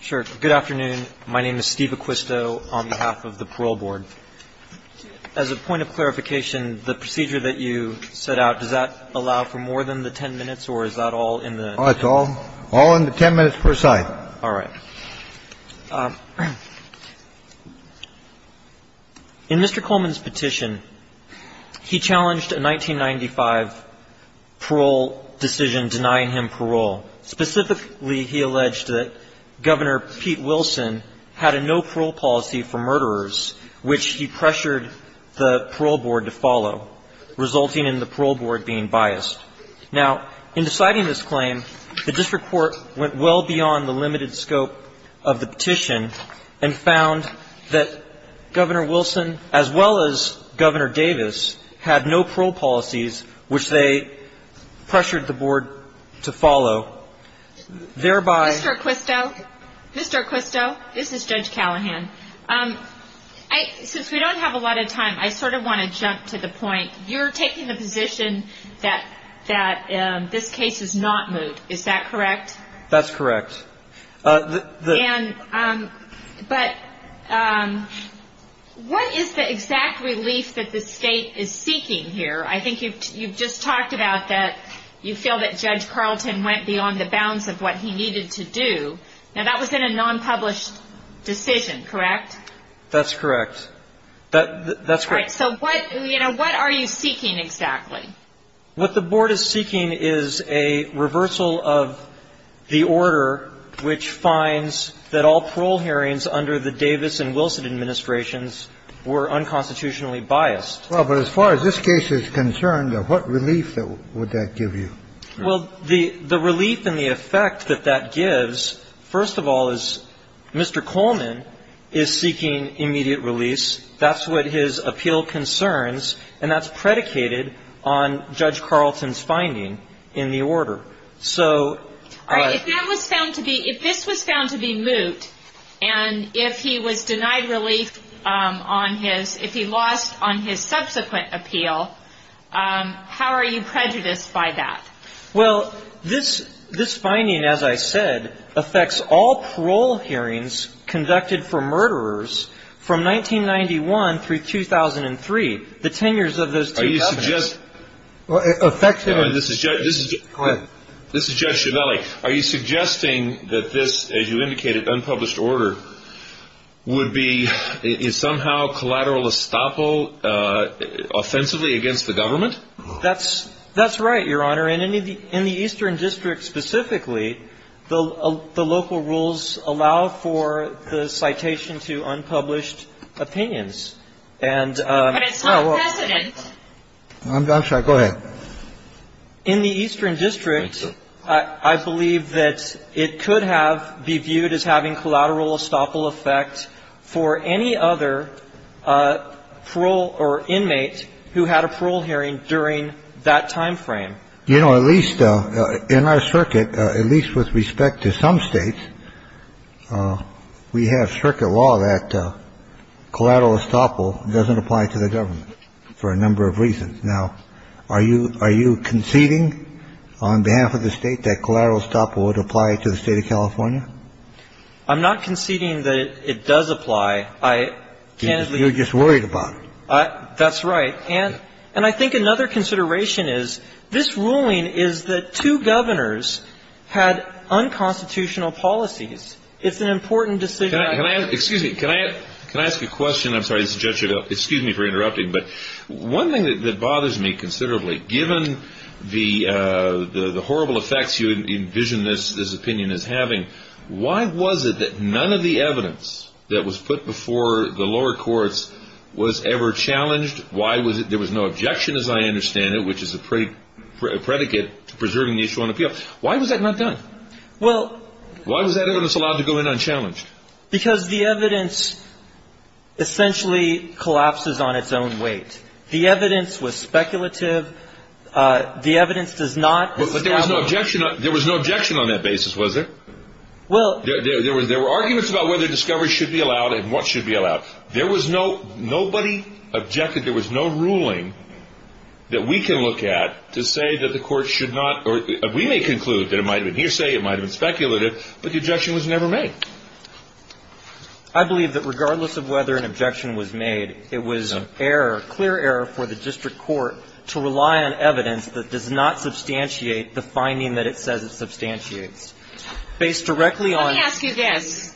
Sure. Good afternoon. My name is Steve Acquisto on behalf of the parole board. As a point of clarification, the procedure that you set out, does that allow for more than the 10 minutes or is that all in the That's all all in the 10 minutes per side. All right. In Mr. Coleman's petition, he challenged a 1995 parole decision denying him parole. Specifically, he alleged that Governor Pete Wilson had a no parole policy for murderers, which he pressured the parole board to follow, resulting in the parole board being biased. Now, in deciding this claim, the district court went well beyond the limited scope of the petition and found that Governor Wilson, as well as Governor Davis, had no parole policies, which they pressured the board to follow, thereby Mr. Acquisto, Mr. Acquisto, this is Judge Callahan. Since we don't have a lot of time, I sort of want to jump to the point. You're taking the position that this case is not moot. Is that correct? That's correct. And but what is the exact relief that the state is seeking here? I think you've just talked about that you feel that Judge Carlton went beyond the bounds of what he needed to do. Now, that was in a non-published decision, correct? That's correct. That's correct. So what, you know, what are you seeking exactly? What the board is seeking is a reversal of the order which finds that all parole hearings under the Davis and Wilson administrations were unconstitutionally biased. Well, but as far as this case is concerned, what relief would that give you? Well, the relief and the effect that that gives, first of all, is Mr. Coleman is seeking immediate release. That's what his appeal concerns. And that's predicated on Judge Carlton's finding in the order. So if that was found to be if this was found to be moot and if he was denied relief on his if he lost on his subsequent appeal, how are you prejudiced by that? Well, this this finding, as I said, affects all parole hearings conducted for murderers from 1991 through 2003. The tenures of those are just effective. And this is just this is just your belly. Are you suggesting that this, as you indicated, unpublished order would be somehow collateral estoppel offensively against the government? That's that's right, Your Honor. And in the Eastern District specifically, the local rules allow for the citation to unpublished opinions. But it's not precedent. I'm sorry. Go ahead. In the Eastern District, I believe that it could have be viewed as having collateral estoppel effect for any other parole or inmate who had a parole hearing during that time frame. You know, at least in our circuit, at least with respect to some states, we have circuit law that collateral estoppel doesn't apply to the government for a number of reasons. Now, are you are you conceding on behalf of the State that collateral estoppel would apply to the State of California? I'm not conceding that it does apply. I can't. You're just worried about it. That's right. And and I think another consideration is this ruling is that two governors had unconstitutional policies. It's an important decision. Excuse me. Can I can I ask a question? I'm sorry. Excuse me for interrupting. But one thing that bothers me considerably, given the horrible effects you envision this opinion is having, why was it that none of the evidence that was put before the lower courts was ever challenged? Why was it there was no objection, as I understand it, which is a predicate to preserving the issue on appeal? Why was that not done? Well, why was that evidence allowed to go in unchallenged? Because the evidence essentially collapses on its own weight. The evidence was speculative. The evidence does not. But there was no objection. There was no objection on that basis, was there? Well, there was there were arguments about whether discovery should be allowed and what should be allowed. There was no nobody objected. There was no ruling that we can look at to say that the court should not. We may conclude that it might have been hearsay. It might have been speculative. But the objection was never made. I believe that regardless of whether an objection was made, it was error, clear error for the district court to rely on evidence that does not substantiate the finding that it says it substantiates. Based directly on. Let me ask you this.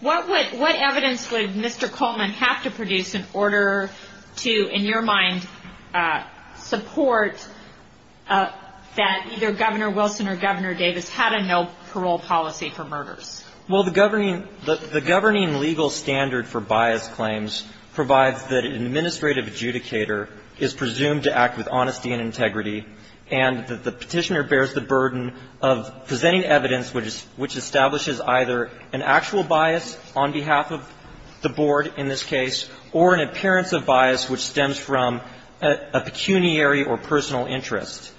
What would what evidence would Mr. Coleman have to produce in order to, in your mind, support that either Governor Wilson or Governor Davis had a no parole policy for murders? Well, the governing the governing legal standard for bias claims provides that an administrative adjudicator is presumed to act with honesty and integrity and that the petitioner bears the burden of presenting evidence, which is which establishes either an actual bias on behalf of the board in this case or an appearance of bias which stems from a pecuniary or personal interest.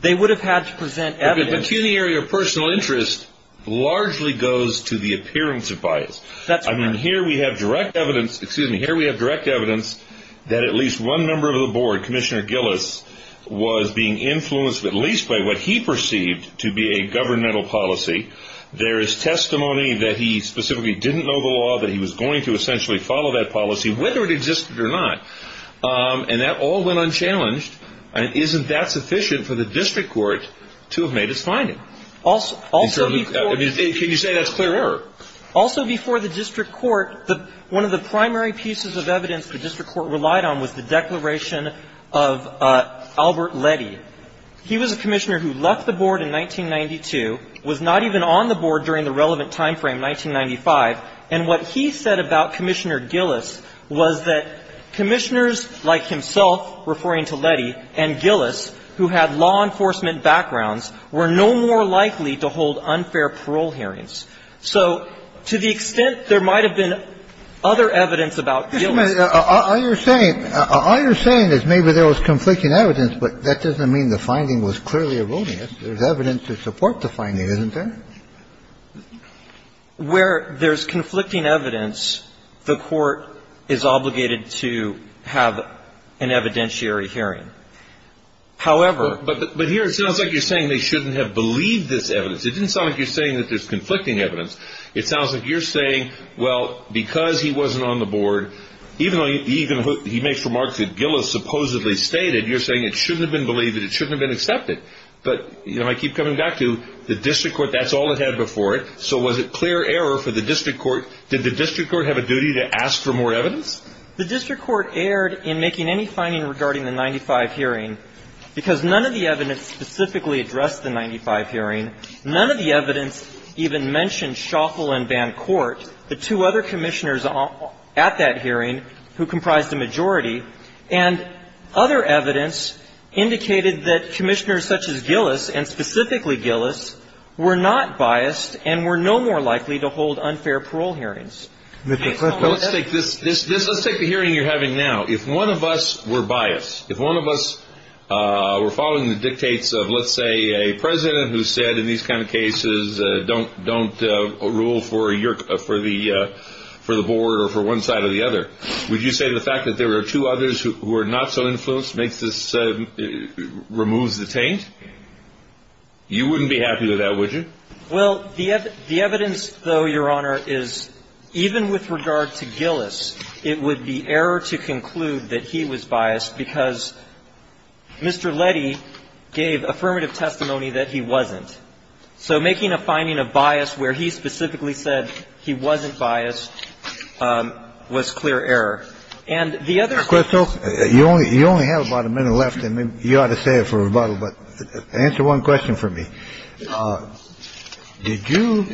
They would have had to present evidence. Pecuniary or personal interest largely goes to the appearance of bias. I mean, here we have direct evidence. Excuse me. Here we have direct evidence that at least one member of the board, Commissioner Gillis, was being influenced at least by what he perceived to be a governmental policy. There is testimony that he specifically didn't know the law, that he was going to essentially follow that policy, whether it existed or not. And that all went unchallenged. And isn't that sufficient for the district court to have made its finding? Also. Can you say that's clear error? Also before the district court, one of the primary pieces of evidence the district court relied on was the declaration of Albert Lette. He was a commissioner who left the board in 1992, was not even on the board during the relevant time frame, 1995, and what he said about Commissioner Gillis was that commissioners like himself, referring to Lette, and Gillis, who had law enforcement backgrounds, were no more likely to hold unfair parole hearings. So to the extent there might have been other evidence about Gillis. I understand. All you're saying is maybe there was conflicting evidence, but that doesn't mean the finding was clearly erroneous. There's evidence to support the finding, isn't there? Where there's conflicting evidence, the court is obligated to have an evidentiary hearing. However. But here it sounds like you're saying they shouldn't have believed this evidence. It didn't sound like you're saying that there's conflicting evidence. It sounds like you're saying, well, because he wasn't on the board, even though he makes remarks that Gillis supposedly stated, you're saying it shouldn't have been believed and it shouldn't have been accepted. But I keep coming back to the district court, that's all it had before it, so was it clear error for the district court? Did the district court have a duty to ask for more evidence? The district court erred in making any finding regarding the 95 hearing because none of the evidence specifically addressed the 95 hearing. None of the evidence even mentioned Shoffel and Bancourt, the two other commissioners at that hearing who comprised a majority. And other evidence indicated that commissioners such as Gillis and specifically Gillis were not biased and were no more likely to hold unfair parole hearings. Let's take the hearing you're having now. If one of us were biased, if one of us were following the dictates of, let's say, a president who said in these kind of cases, don't rule for the board or for one side or the other, would you say the fact that there were two others who were not so influenced removes the taint? You wouldn't be happy with that, would you? Well, the evidence, though, Your Honor, is even with regard to Gillis, it would be error to conclude that he was biased because Mr. Letty gave affirmative testimony that he wasn't. So making a finding of bias where he specifically said he wasn't biased was clear error. And the other thing ---- You only have about a minute left, and you ought to say it for rebuttal, but answer one question for me. Did you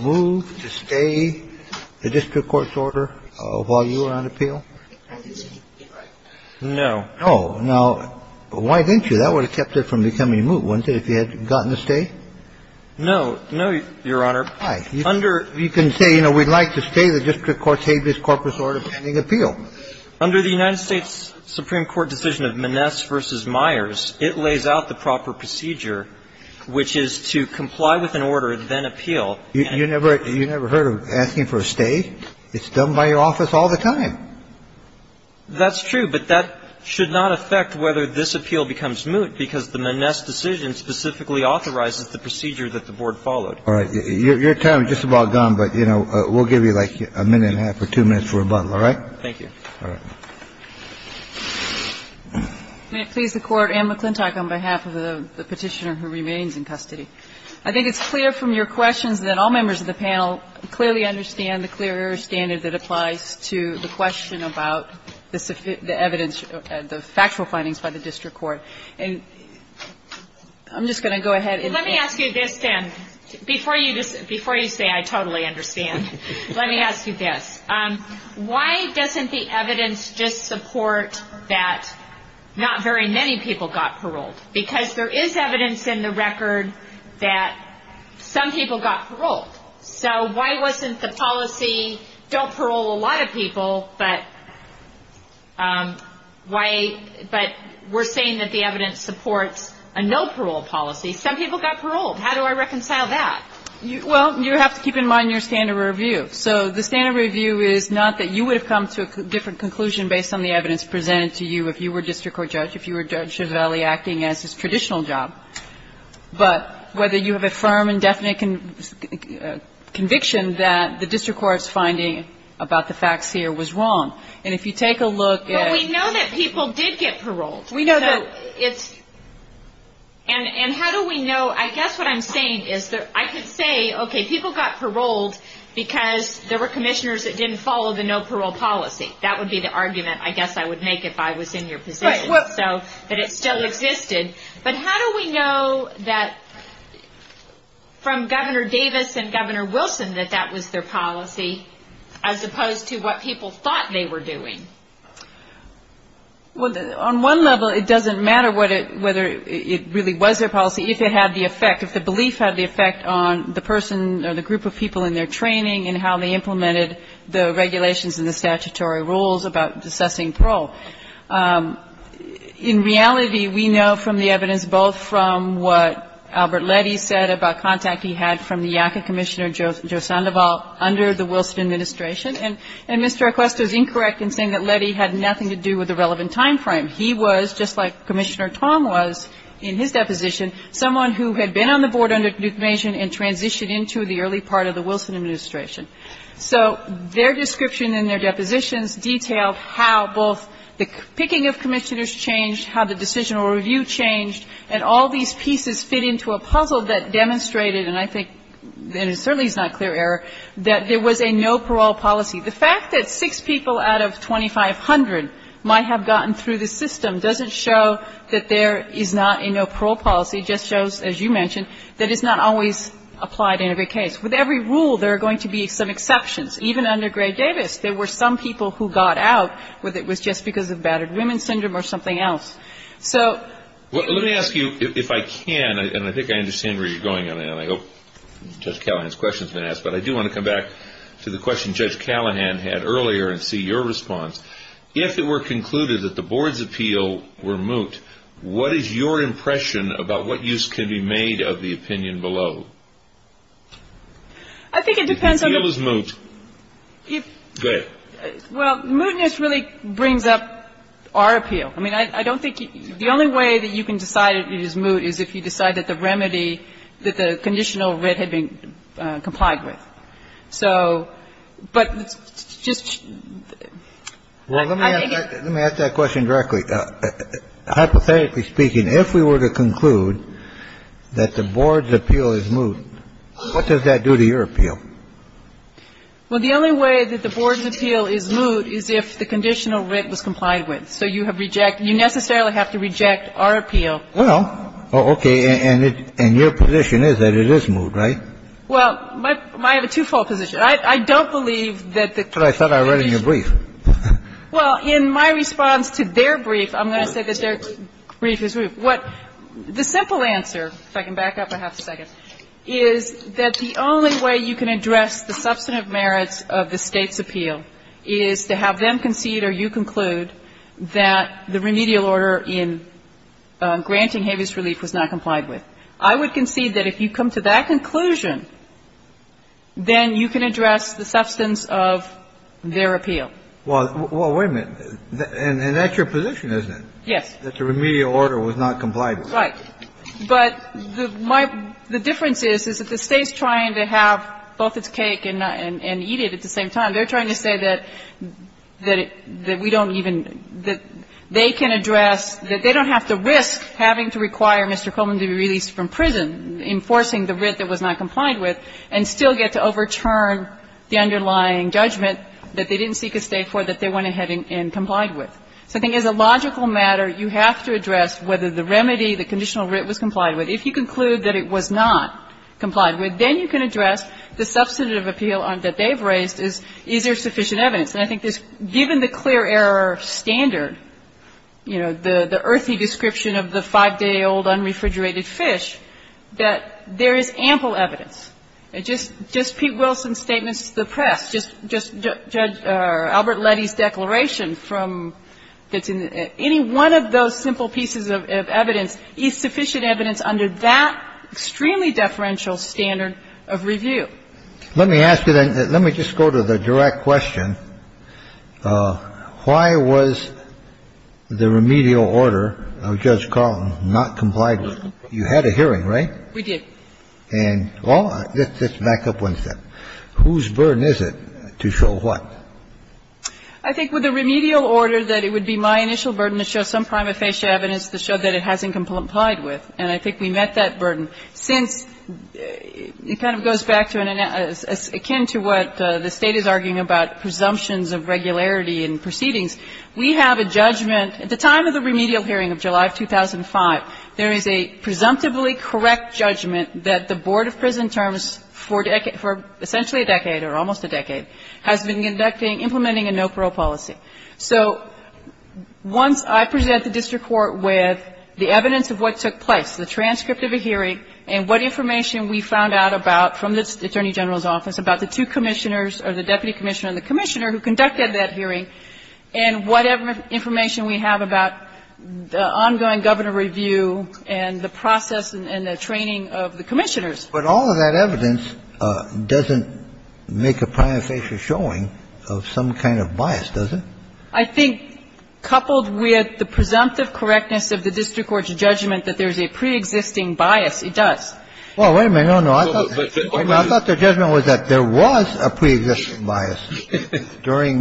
move to stay the district court's order while you were on appeal? No. Oh. Now, why didn't you? That would have kept it from becoming a move, wouldn't it, if you had gotten to stay? No. No, Your Honor. Why? Under ---- You can say, you know, we'd like to stay the district court's habeas corpus order pending appeal. Under the United States Supreme Court decision of Maness v. Myers, it lays out the proper procedure, which is to comply with an order, then appeal. You never heard of asking for a stay? It's done by your office all the time. That's true. But that should not affect whether this appeal becomes moot, because the Maness decision specifically authorizes the procedure that the Board followed. All right. Your time is just about gone, but, you know, we'll give you, like, a minute and a half or two minutes for rebuttal. All right? All right. May it please the Court, Anne McClintock on behalf of the Petitioner who remains in custody. I think it's clear from your questions that all members of the panel clearly understand the clear error standard that applies to the question about the evidence of the factual findings by the district court. And I'm just going to go ahead and ---- Let me ask you this, then. Before you say I totally understand, let me ask you this. Why doesn't the evidence just support that not very many people got paroled? Because there is evidence in the record that some people got paroled. So why wasn't the policy don't parole a lot of people, but why ---- but we're saying that the evidence supports a no parole policy. Some people got paroled. How do I reconcile that? Well, you have to keep in mind your standard review. So the standard review is not that you would have come to a different conclusion based on the evidence presented to you if you were a district court judge, if you were Judge Chiavelli acting as his traditional job. But whether you have a firm and definite conviction that the district court's finding about the facts here was wrong. And if you take a look at ---- But we know that people did get paroled. We know that ---- And how do we know ---- I guess what I'm saying is that I could say, okay, people got paroled because there were commissioners that didn't follow the no parole policy. That would be the argument I guess I would make if I was in your position. But it still existed. But how do we know that from Governor Davis and Governor Wilson that that was their policy as opposed to what people thought they were doing? Well, on one level, it doesn't matter whether it really was their policy. If it had the effect, if the belief had the effect on the person or the group of people in their training and how they implemented the regulations and the statutory rules about assessing parole. In reality, we know from the evidence both from what Albert Letty said about contact he had from the YACA Commissioner Joe Sandoval under the Wilson administration. And Mr. Equesta is incorrect in saying that Letty had nothing to do with the relevant time frame. He was, just like Commissioner Tom was in his deposition, someone who had been on the board under Duke Mason and transitioned into the early part of the Wilson administration. So their description in their depositions detailed how both the picking of commissioners changed, how the decisional review changed, and all these pieces fit into a puzzle that demonstrated, and I think it certainly is not clear error, that there was a no parole policy. The fact that six people out of 2,500 might have gotten through the system doesn't show that there is not a no parole policy. It just shows, as you mentioned, that it's not always applied in every case. With every rule, there are going to be some exceptions. Even under Gray-Davis, there were some people who got out whether it was just because of battered women syndrome or something else. So ---- Well, let me ask you, if I can, and I think I understand where you're going on, and I hope Judge Callahan's question has been asked, but I do want to come back to the question that Judge Callahan had earlier and see your response. If it were concluded that the board's appeal were moot, what is your impression about what use can be made of the opinion below? I think it depends on the ---- If the appeal is moot, go ahead. Well, mootness really brings up our appeal. I mean, I don't think you ---- the only way that you can decide it is moot is if you decide that the remedy, that the conditional writ had been complied with. So, but just ---- Well, let me ask that question directly. Hypothetically speaking, if we were to conclude that the board's appeal is moot, what does that do to your appeal? Well, the only way that the board's appeal is moot is if the conditional writ was complied with. So you have rejected ---- you necessarily have to reject our appeal. Well, okay. And your position is that it is moot, right? Well, I have a twofold position. I don't believe that the ---- But I thought I read in your brief. Well, in my response to their brief, I'm going to say that their brief is moot. The simple answer, if I can back up a half a second, is that the only way you can address the substantive merits of the State's appeal is to have them concede or you conclude that the remedial order in granting habeas relief was not complied with. I would concede that if you come to that conclusion, then you can address the substance of their appeal. Well, wait a minute. And that's your position, isn't it? Yes. That the remedial order was not complied with. Right. But the difference is, is that the State's trying to have both its cake and eat it at the same time. They're trying to say that we don't even ---- that they can address, that they don't have to risk having to require Mr. Coleman to be released from prison, enforcing the writ that was not complied with, and still get to overturn the underlying judgment that they didn't seek a State for that they went ahead and complied with. So I think as a logical matter, you have to address whether the remedy, the conditional writ, was complied with. If you conclude that it was not complied with, then you can address the substantive appeal that they've raised is, is there sufficient evidence. And I think given the clear error standard, you know, the earthy description of the five-day-old unrefrigerated fish, that there is ample evidence. Just Pete Wilson's statements to the press, just Judge Albert Letty's declaration from ---- any one of those simple pieces of evidence is sufficient evidence under that extremely deferential standard of review. Let me ask you then, let me just go to the direct question. Why was the remedial order of Judge Carlton not complied with? You had a hearing, right? We did. And well, let's back up one step. Whose burden is it to show what? I think with the remedial order that it would be my initial burden to show some prima facie evidence to show that it hasn't complied with, and I think we met that burden. Since it kind of goes back to an ---- akin to what the State is arguing about presumptions of regularity in proceedings, we have a judgment. At the time of the remedial hearing of July of 2005, there is a presumptively correct judgment that the board of prison terms for essentially a decade or almost a decade has been conducting, implementing a no-parole policy. So once I present the district court with the evidence of what took place, the transcript of a hearing and what information we found out about from the attorney general's office about the two commissioners or the deputy commissioner and the commissioner who conducted that hearing, and whatever information we have about the ongoing governor review and the process and the training of the commissioners. But all of that evidence doesn't make a prima facie showing of some kind of bias, does it? I think, coupled with the presumptive correctness of the district court's judgment that there is a preexisting bias, it does. Well, wait a minute. No, no. I thought the judgment was that there was a preexisting bias during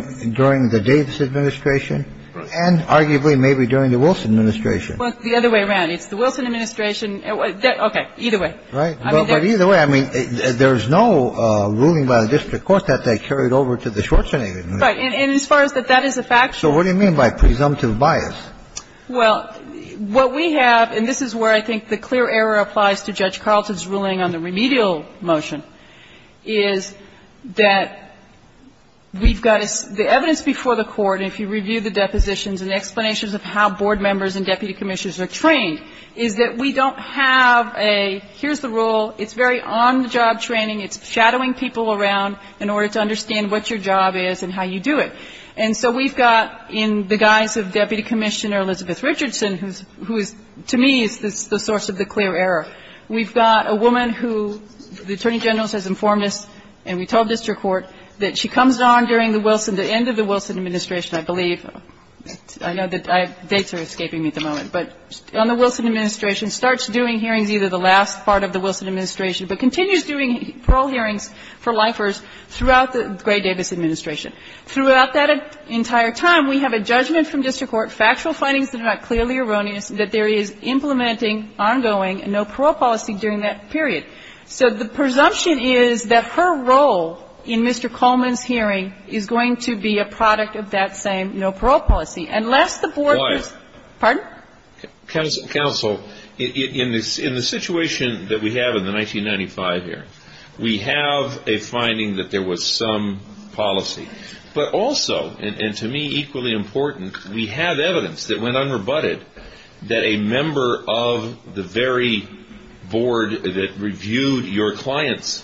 the Davis administration and arguably maybe during the Wilson administration. Well, the other way around. It's the Wilson administration. Okay. Either way. Right. But either way, I mean, there's no ruling by the district court that they carried over to the Schwarzenegger administration. Right. And as far as that that is a factual. So what do you mean by presumptive bias? Well, what we have, and this is where I think the clear error applies to Judge Carlton's ruling on the remedial motion, is that we've got the evidence before the Court, and if you review the depositions and explanations of how board members and deputy commissioners are trained, is that we don't have a here's the rule, it's very on-the-job training, it's shadowing people around in order to understand what your job is and how you do it. And so we've got, in the guise of Deputy Commissioner Elizabeth Richardson, who is, to me, is the source of the clear error, we've got a woman who the Attorney General has informed us, and we told district court, that she comes on during the Wilson, the end of the Wilson administration, I believe. I know that dates are escaping me at the moment. But on the Wilson administration, starts doing hearings either the last part of the for lifers throughout the Gray-Davis administration. Throughout that entire time, we have a judgment from district court, factual findings that are not clearly erroneous, that there is implementing ongoing no-parole policy during that period. So the presumption is that her role in Mr. Coleman's hearing is going to be a product of that same no-parole policy. Unless the board is why? Pardon? Counsel, in the situation that we have in the 1995 hearing, we have a finding that there was some policy. But also, and to me equally important, we have evidence that went unrebutted that a member of the very board that reviewed your client's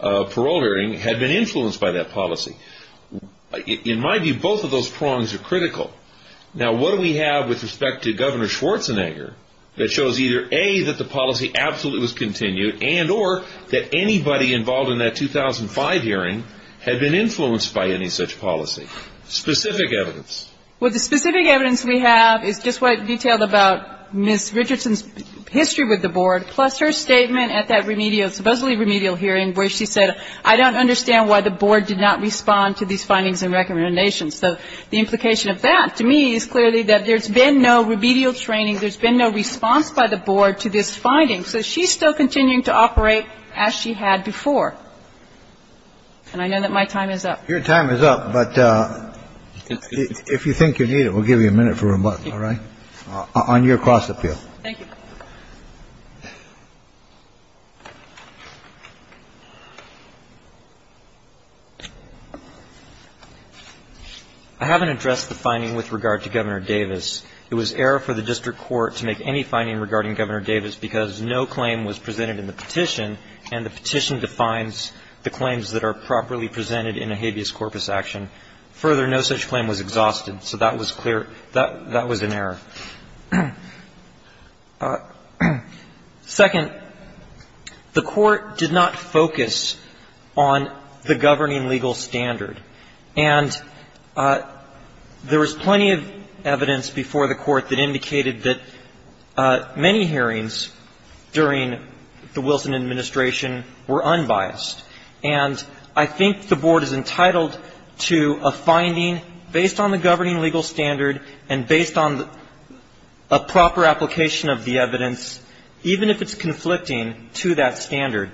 parole hearing had been influenced by that policy. In my view, both of those prongs are critical. Now, what do we have with respect to Governor Schwarzenegger that shows either, A, that the policy absolutely was continued, and or that anybody involved in that 2005 hearing had been influenced by any such policy? Specific evidence. Well, the specific evidence we have is just what detailed about Ms. Richardson's history with the board, plus her statement at that remedial, supposedly remedial hearing where she said, I don't understand why the board did not respond to these findings and recommendations. So the implication of that to me is clearly that there's been no remedial training, there's been no response by the board to this finding. So she's still continuing to operate as she had before. And I know that my time is up. Your time is up. But if you think you need it, we'll give you a minute for rebuttal. All right? On your cross-appeal. Thank you. I haven't addressed the finding with regard to Governor Davis. It was error for the district court to make any finding regarding Governor Davis because no claim was presented in the petition, and the petition defines the claims that are properly presented in a habeas corpus action. Further, no such claim was exhausted. So that was clear. That was an error. Second, the Court did not focus on the governing legal standard. And there was plenty of evidence before the Court that indicated that many hearings during the Wilson administration were unbiased. And I think the board is entitled to a finding based on the governing legal standard and based on a proper application of the evidence, even if it's conflicting to that standard.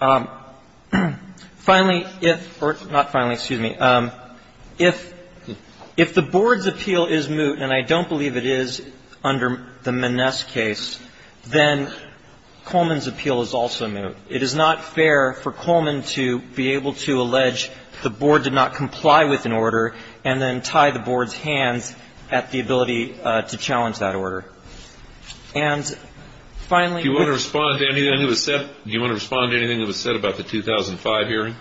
Finally, if or not finally, excuse me. If the board's appeal is moot, and I don't believe it is under the Maness case, then Coleman's appeal is also moot. It is not fair for Coleman to be able to allege the board did not comply with an order and then tie the board's hands at the ability to challenge that order. And finally we're going to respond to anything that was said. Do you want to respond to anything that was said about the 2005 hearing?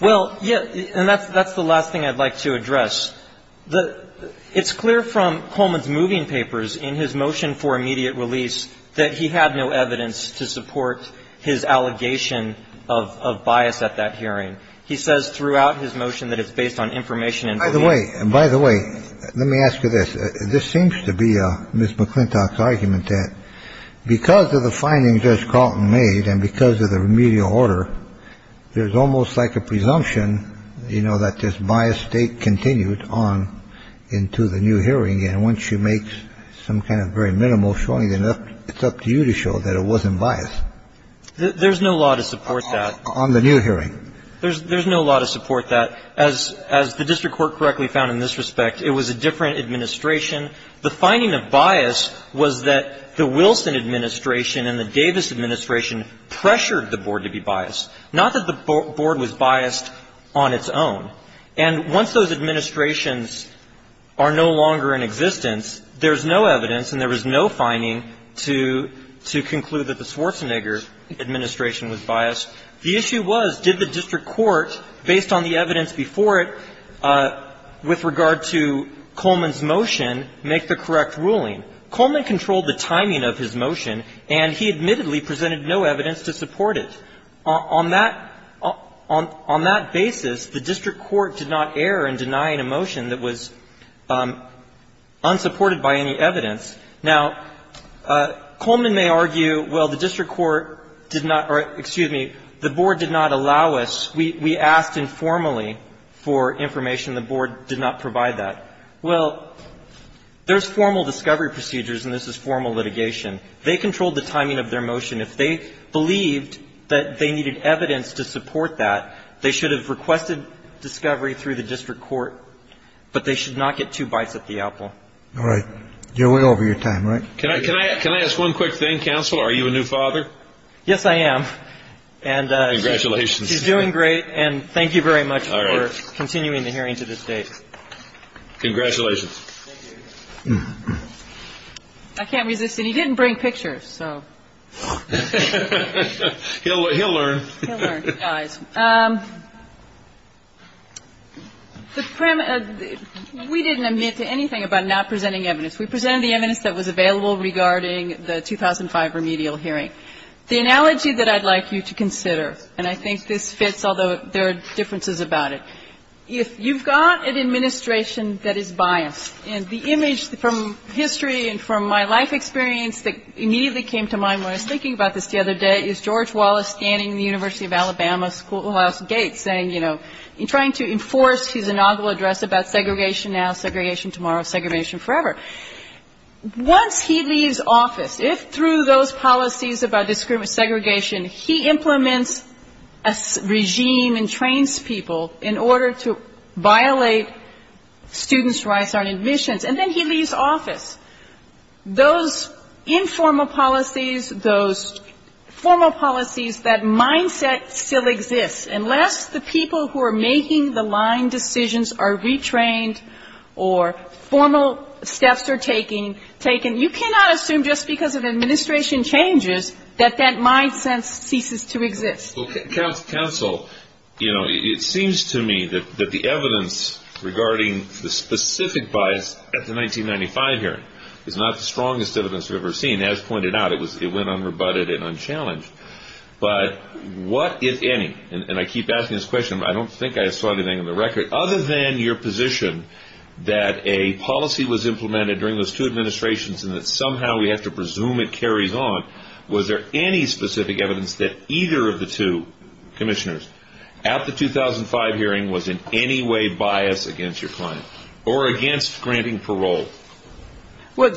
Well, yes. And that's the last thing I'd like to address. It's clear from Coleman's moving papers in his motion for immediate release that he had no evidence to support his allegation of bias at that hearing. He says throughout his motion that it's based on information. By the way, by the way, let me ask you this. This seems to be Ms. McClintock's argument that because of the findings Judge Carlton made and because of the remedial order, there's almost like a presumption, you know, that this biased state continued on into the new hearing. And once you make some kind of very minimal showing, then it's up to you to show that it wasn't biased. There's no law to support that. On the new hearing. There's no law to support that. As the district court correctly found in this respect, it was a different administration. The finding of bias was that the Wilson administration and the Davis administration pressured the board to be biased, not that the board was biased on its own. And once those administrations are no longer in existence, there's no evidence and there was no finding to conclude that the Schwarzenegger administration was biased. The issue was, did the district court, based on the evidence before it with regard to Coleman's motion, make the correct ruling? Coleman controlled the timing of his motion, and he admittedly presented no evidence to support it. On that basis, the district court did not err in denying a motion that was unsupported by any evidence. Now, Coleman may argue, well, the district court did not or, excuse me, the board did not allow us, we asked informally for information. The board did not provide that. Well, there's formal discovery procedures, and this is formal litigation. They controlled the timing of their motion. If they believed that they needed evidence to support that, they should have requested discovery through the district court, but they should not get two bites at the apple. All right. You're way over your time, right? Can I ask one quick thing, counsel? Are you a new father? Yes, I am. Congratulations. He's doing great, and thank you very much for continuing the hearing to this date. Congratulations. Thank you. I can't resist it. He didn't bring pictures, so. He'll learn. He'll learn, guys. We didn't admit to anything about not presenting evidence. We presented the evidence that was available regarding the 2005 remedial hearing. The analogy that I'd like you to consider, and I think this fits, although there are differences about it. If you've got an administration that is biased, and the image from history and from my life experience that immediately came to mind when I was thinking about this the other day is George Wallace standing in the University of Alabama Schoolhouse Gate saying, you know, trying to enforce his inaugural address about segregation now, segregation tomorrow, segregation forever. Once he leaves office, if through those policies about segregation, he implements a regime and trains people in order to violate students' rights on admissions, and then he leaves office, those informal policies, those formal policies, that mindset still exists. Unless the people who are making the line decisions are retrained or formal steps are taken, you cannot assume just because of administration changes that that mindset ceases to exist. Counsel, you know, it seems to me that the evidence regarding the specific bias at the 1995 hearing is not the strongest evidence we've ever seen. As pointed out, it went unrebutted and unchallenged. But what, if any, and I keep asking this question, but I don't think I saw anything in the record. Other than your position that a policy was implemented during those two administrations and that somehow we have to presume it carries on, was there any specific evidence that either of the two commissioners at the 2005 hearing was in any way biased against your client or against granting parole? Well,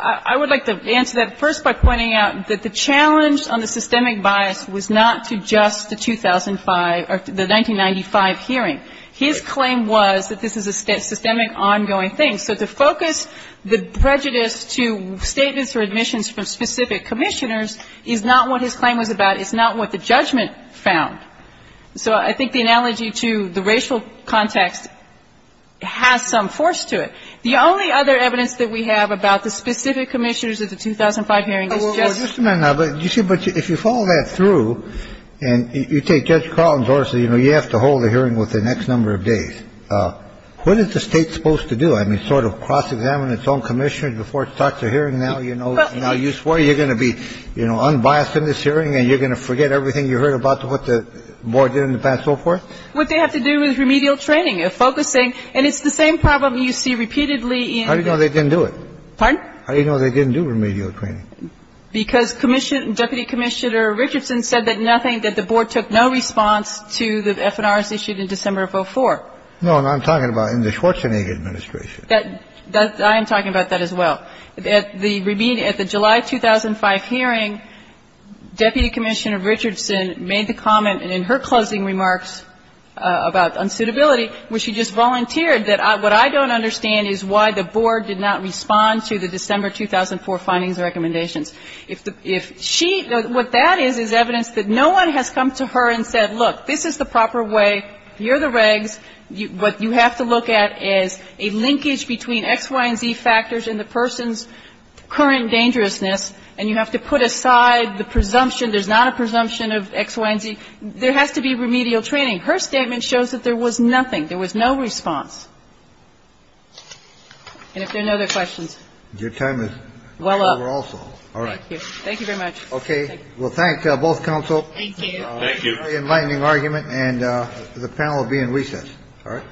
I would like to answer that first by pointing out that the challenge on the systemic bias was not to just the 2005 or the 1995 hearing. His claim was that this is a systemic ongoing thing. So to focus the prejudice to statements or admissions from specific commissioners is not what his claim was about. It's not what the judgment found. So I think the analogy to the racial context has some force to it. The only other evidence that we have about the specific commissioners at the 2005 hearing is just the racial context. I mean, you're saying that this is not true. And you take Judge Carlton's order, so, you know, you have to hold a hearing within X number of days. What is the State supposed to do? I mean, sort of cross-examine its own commissioners before it starts a hearing now, you know, now you swore you're going to be, you know, unbiased in this hearing and you're going to forget everything you heard about what the board did in the past, so forth? What they have to do is remedial training, a focusing. And it's the same problem you see repeatedly in the — And you said that nothing, that the board took no response to the FNRs issued in December of 2004. No, and I'm talking about in the Schwarzenegger administration. I am talking about that as well. At the July 2005 hearing, Deputy Commissioner Richardson made the comment in her closing remarks about unsuitability where she just volunteered that what I don't understand is why the board did not respond to the December 2004 findings and recommendations. If she — what that is, is evidence that no one has come to her and said, look, this is the proper way, here are the regs, what you have to look at is a linkage between X, Y, and Z factors and the person's current dangerousness, and you have to put aside the presumption — there's not a presumption of X, Y, and Z. There has to be remedial training. Her statement shows that there was nothing. There was no response. And if there are no other questions. Your time is well over also. All right. Thank you very much. Okay. Well, thank both counsel. Thank you. Thank you. Enlightening argument. And the panel will be in recess. All right.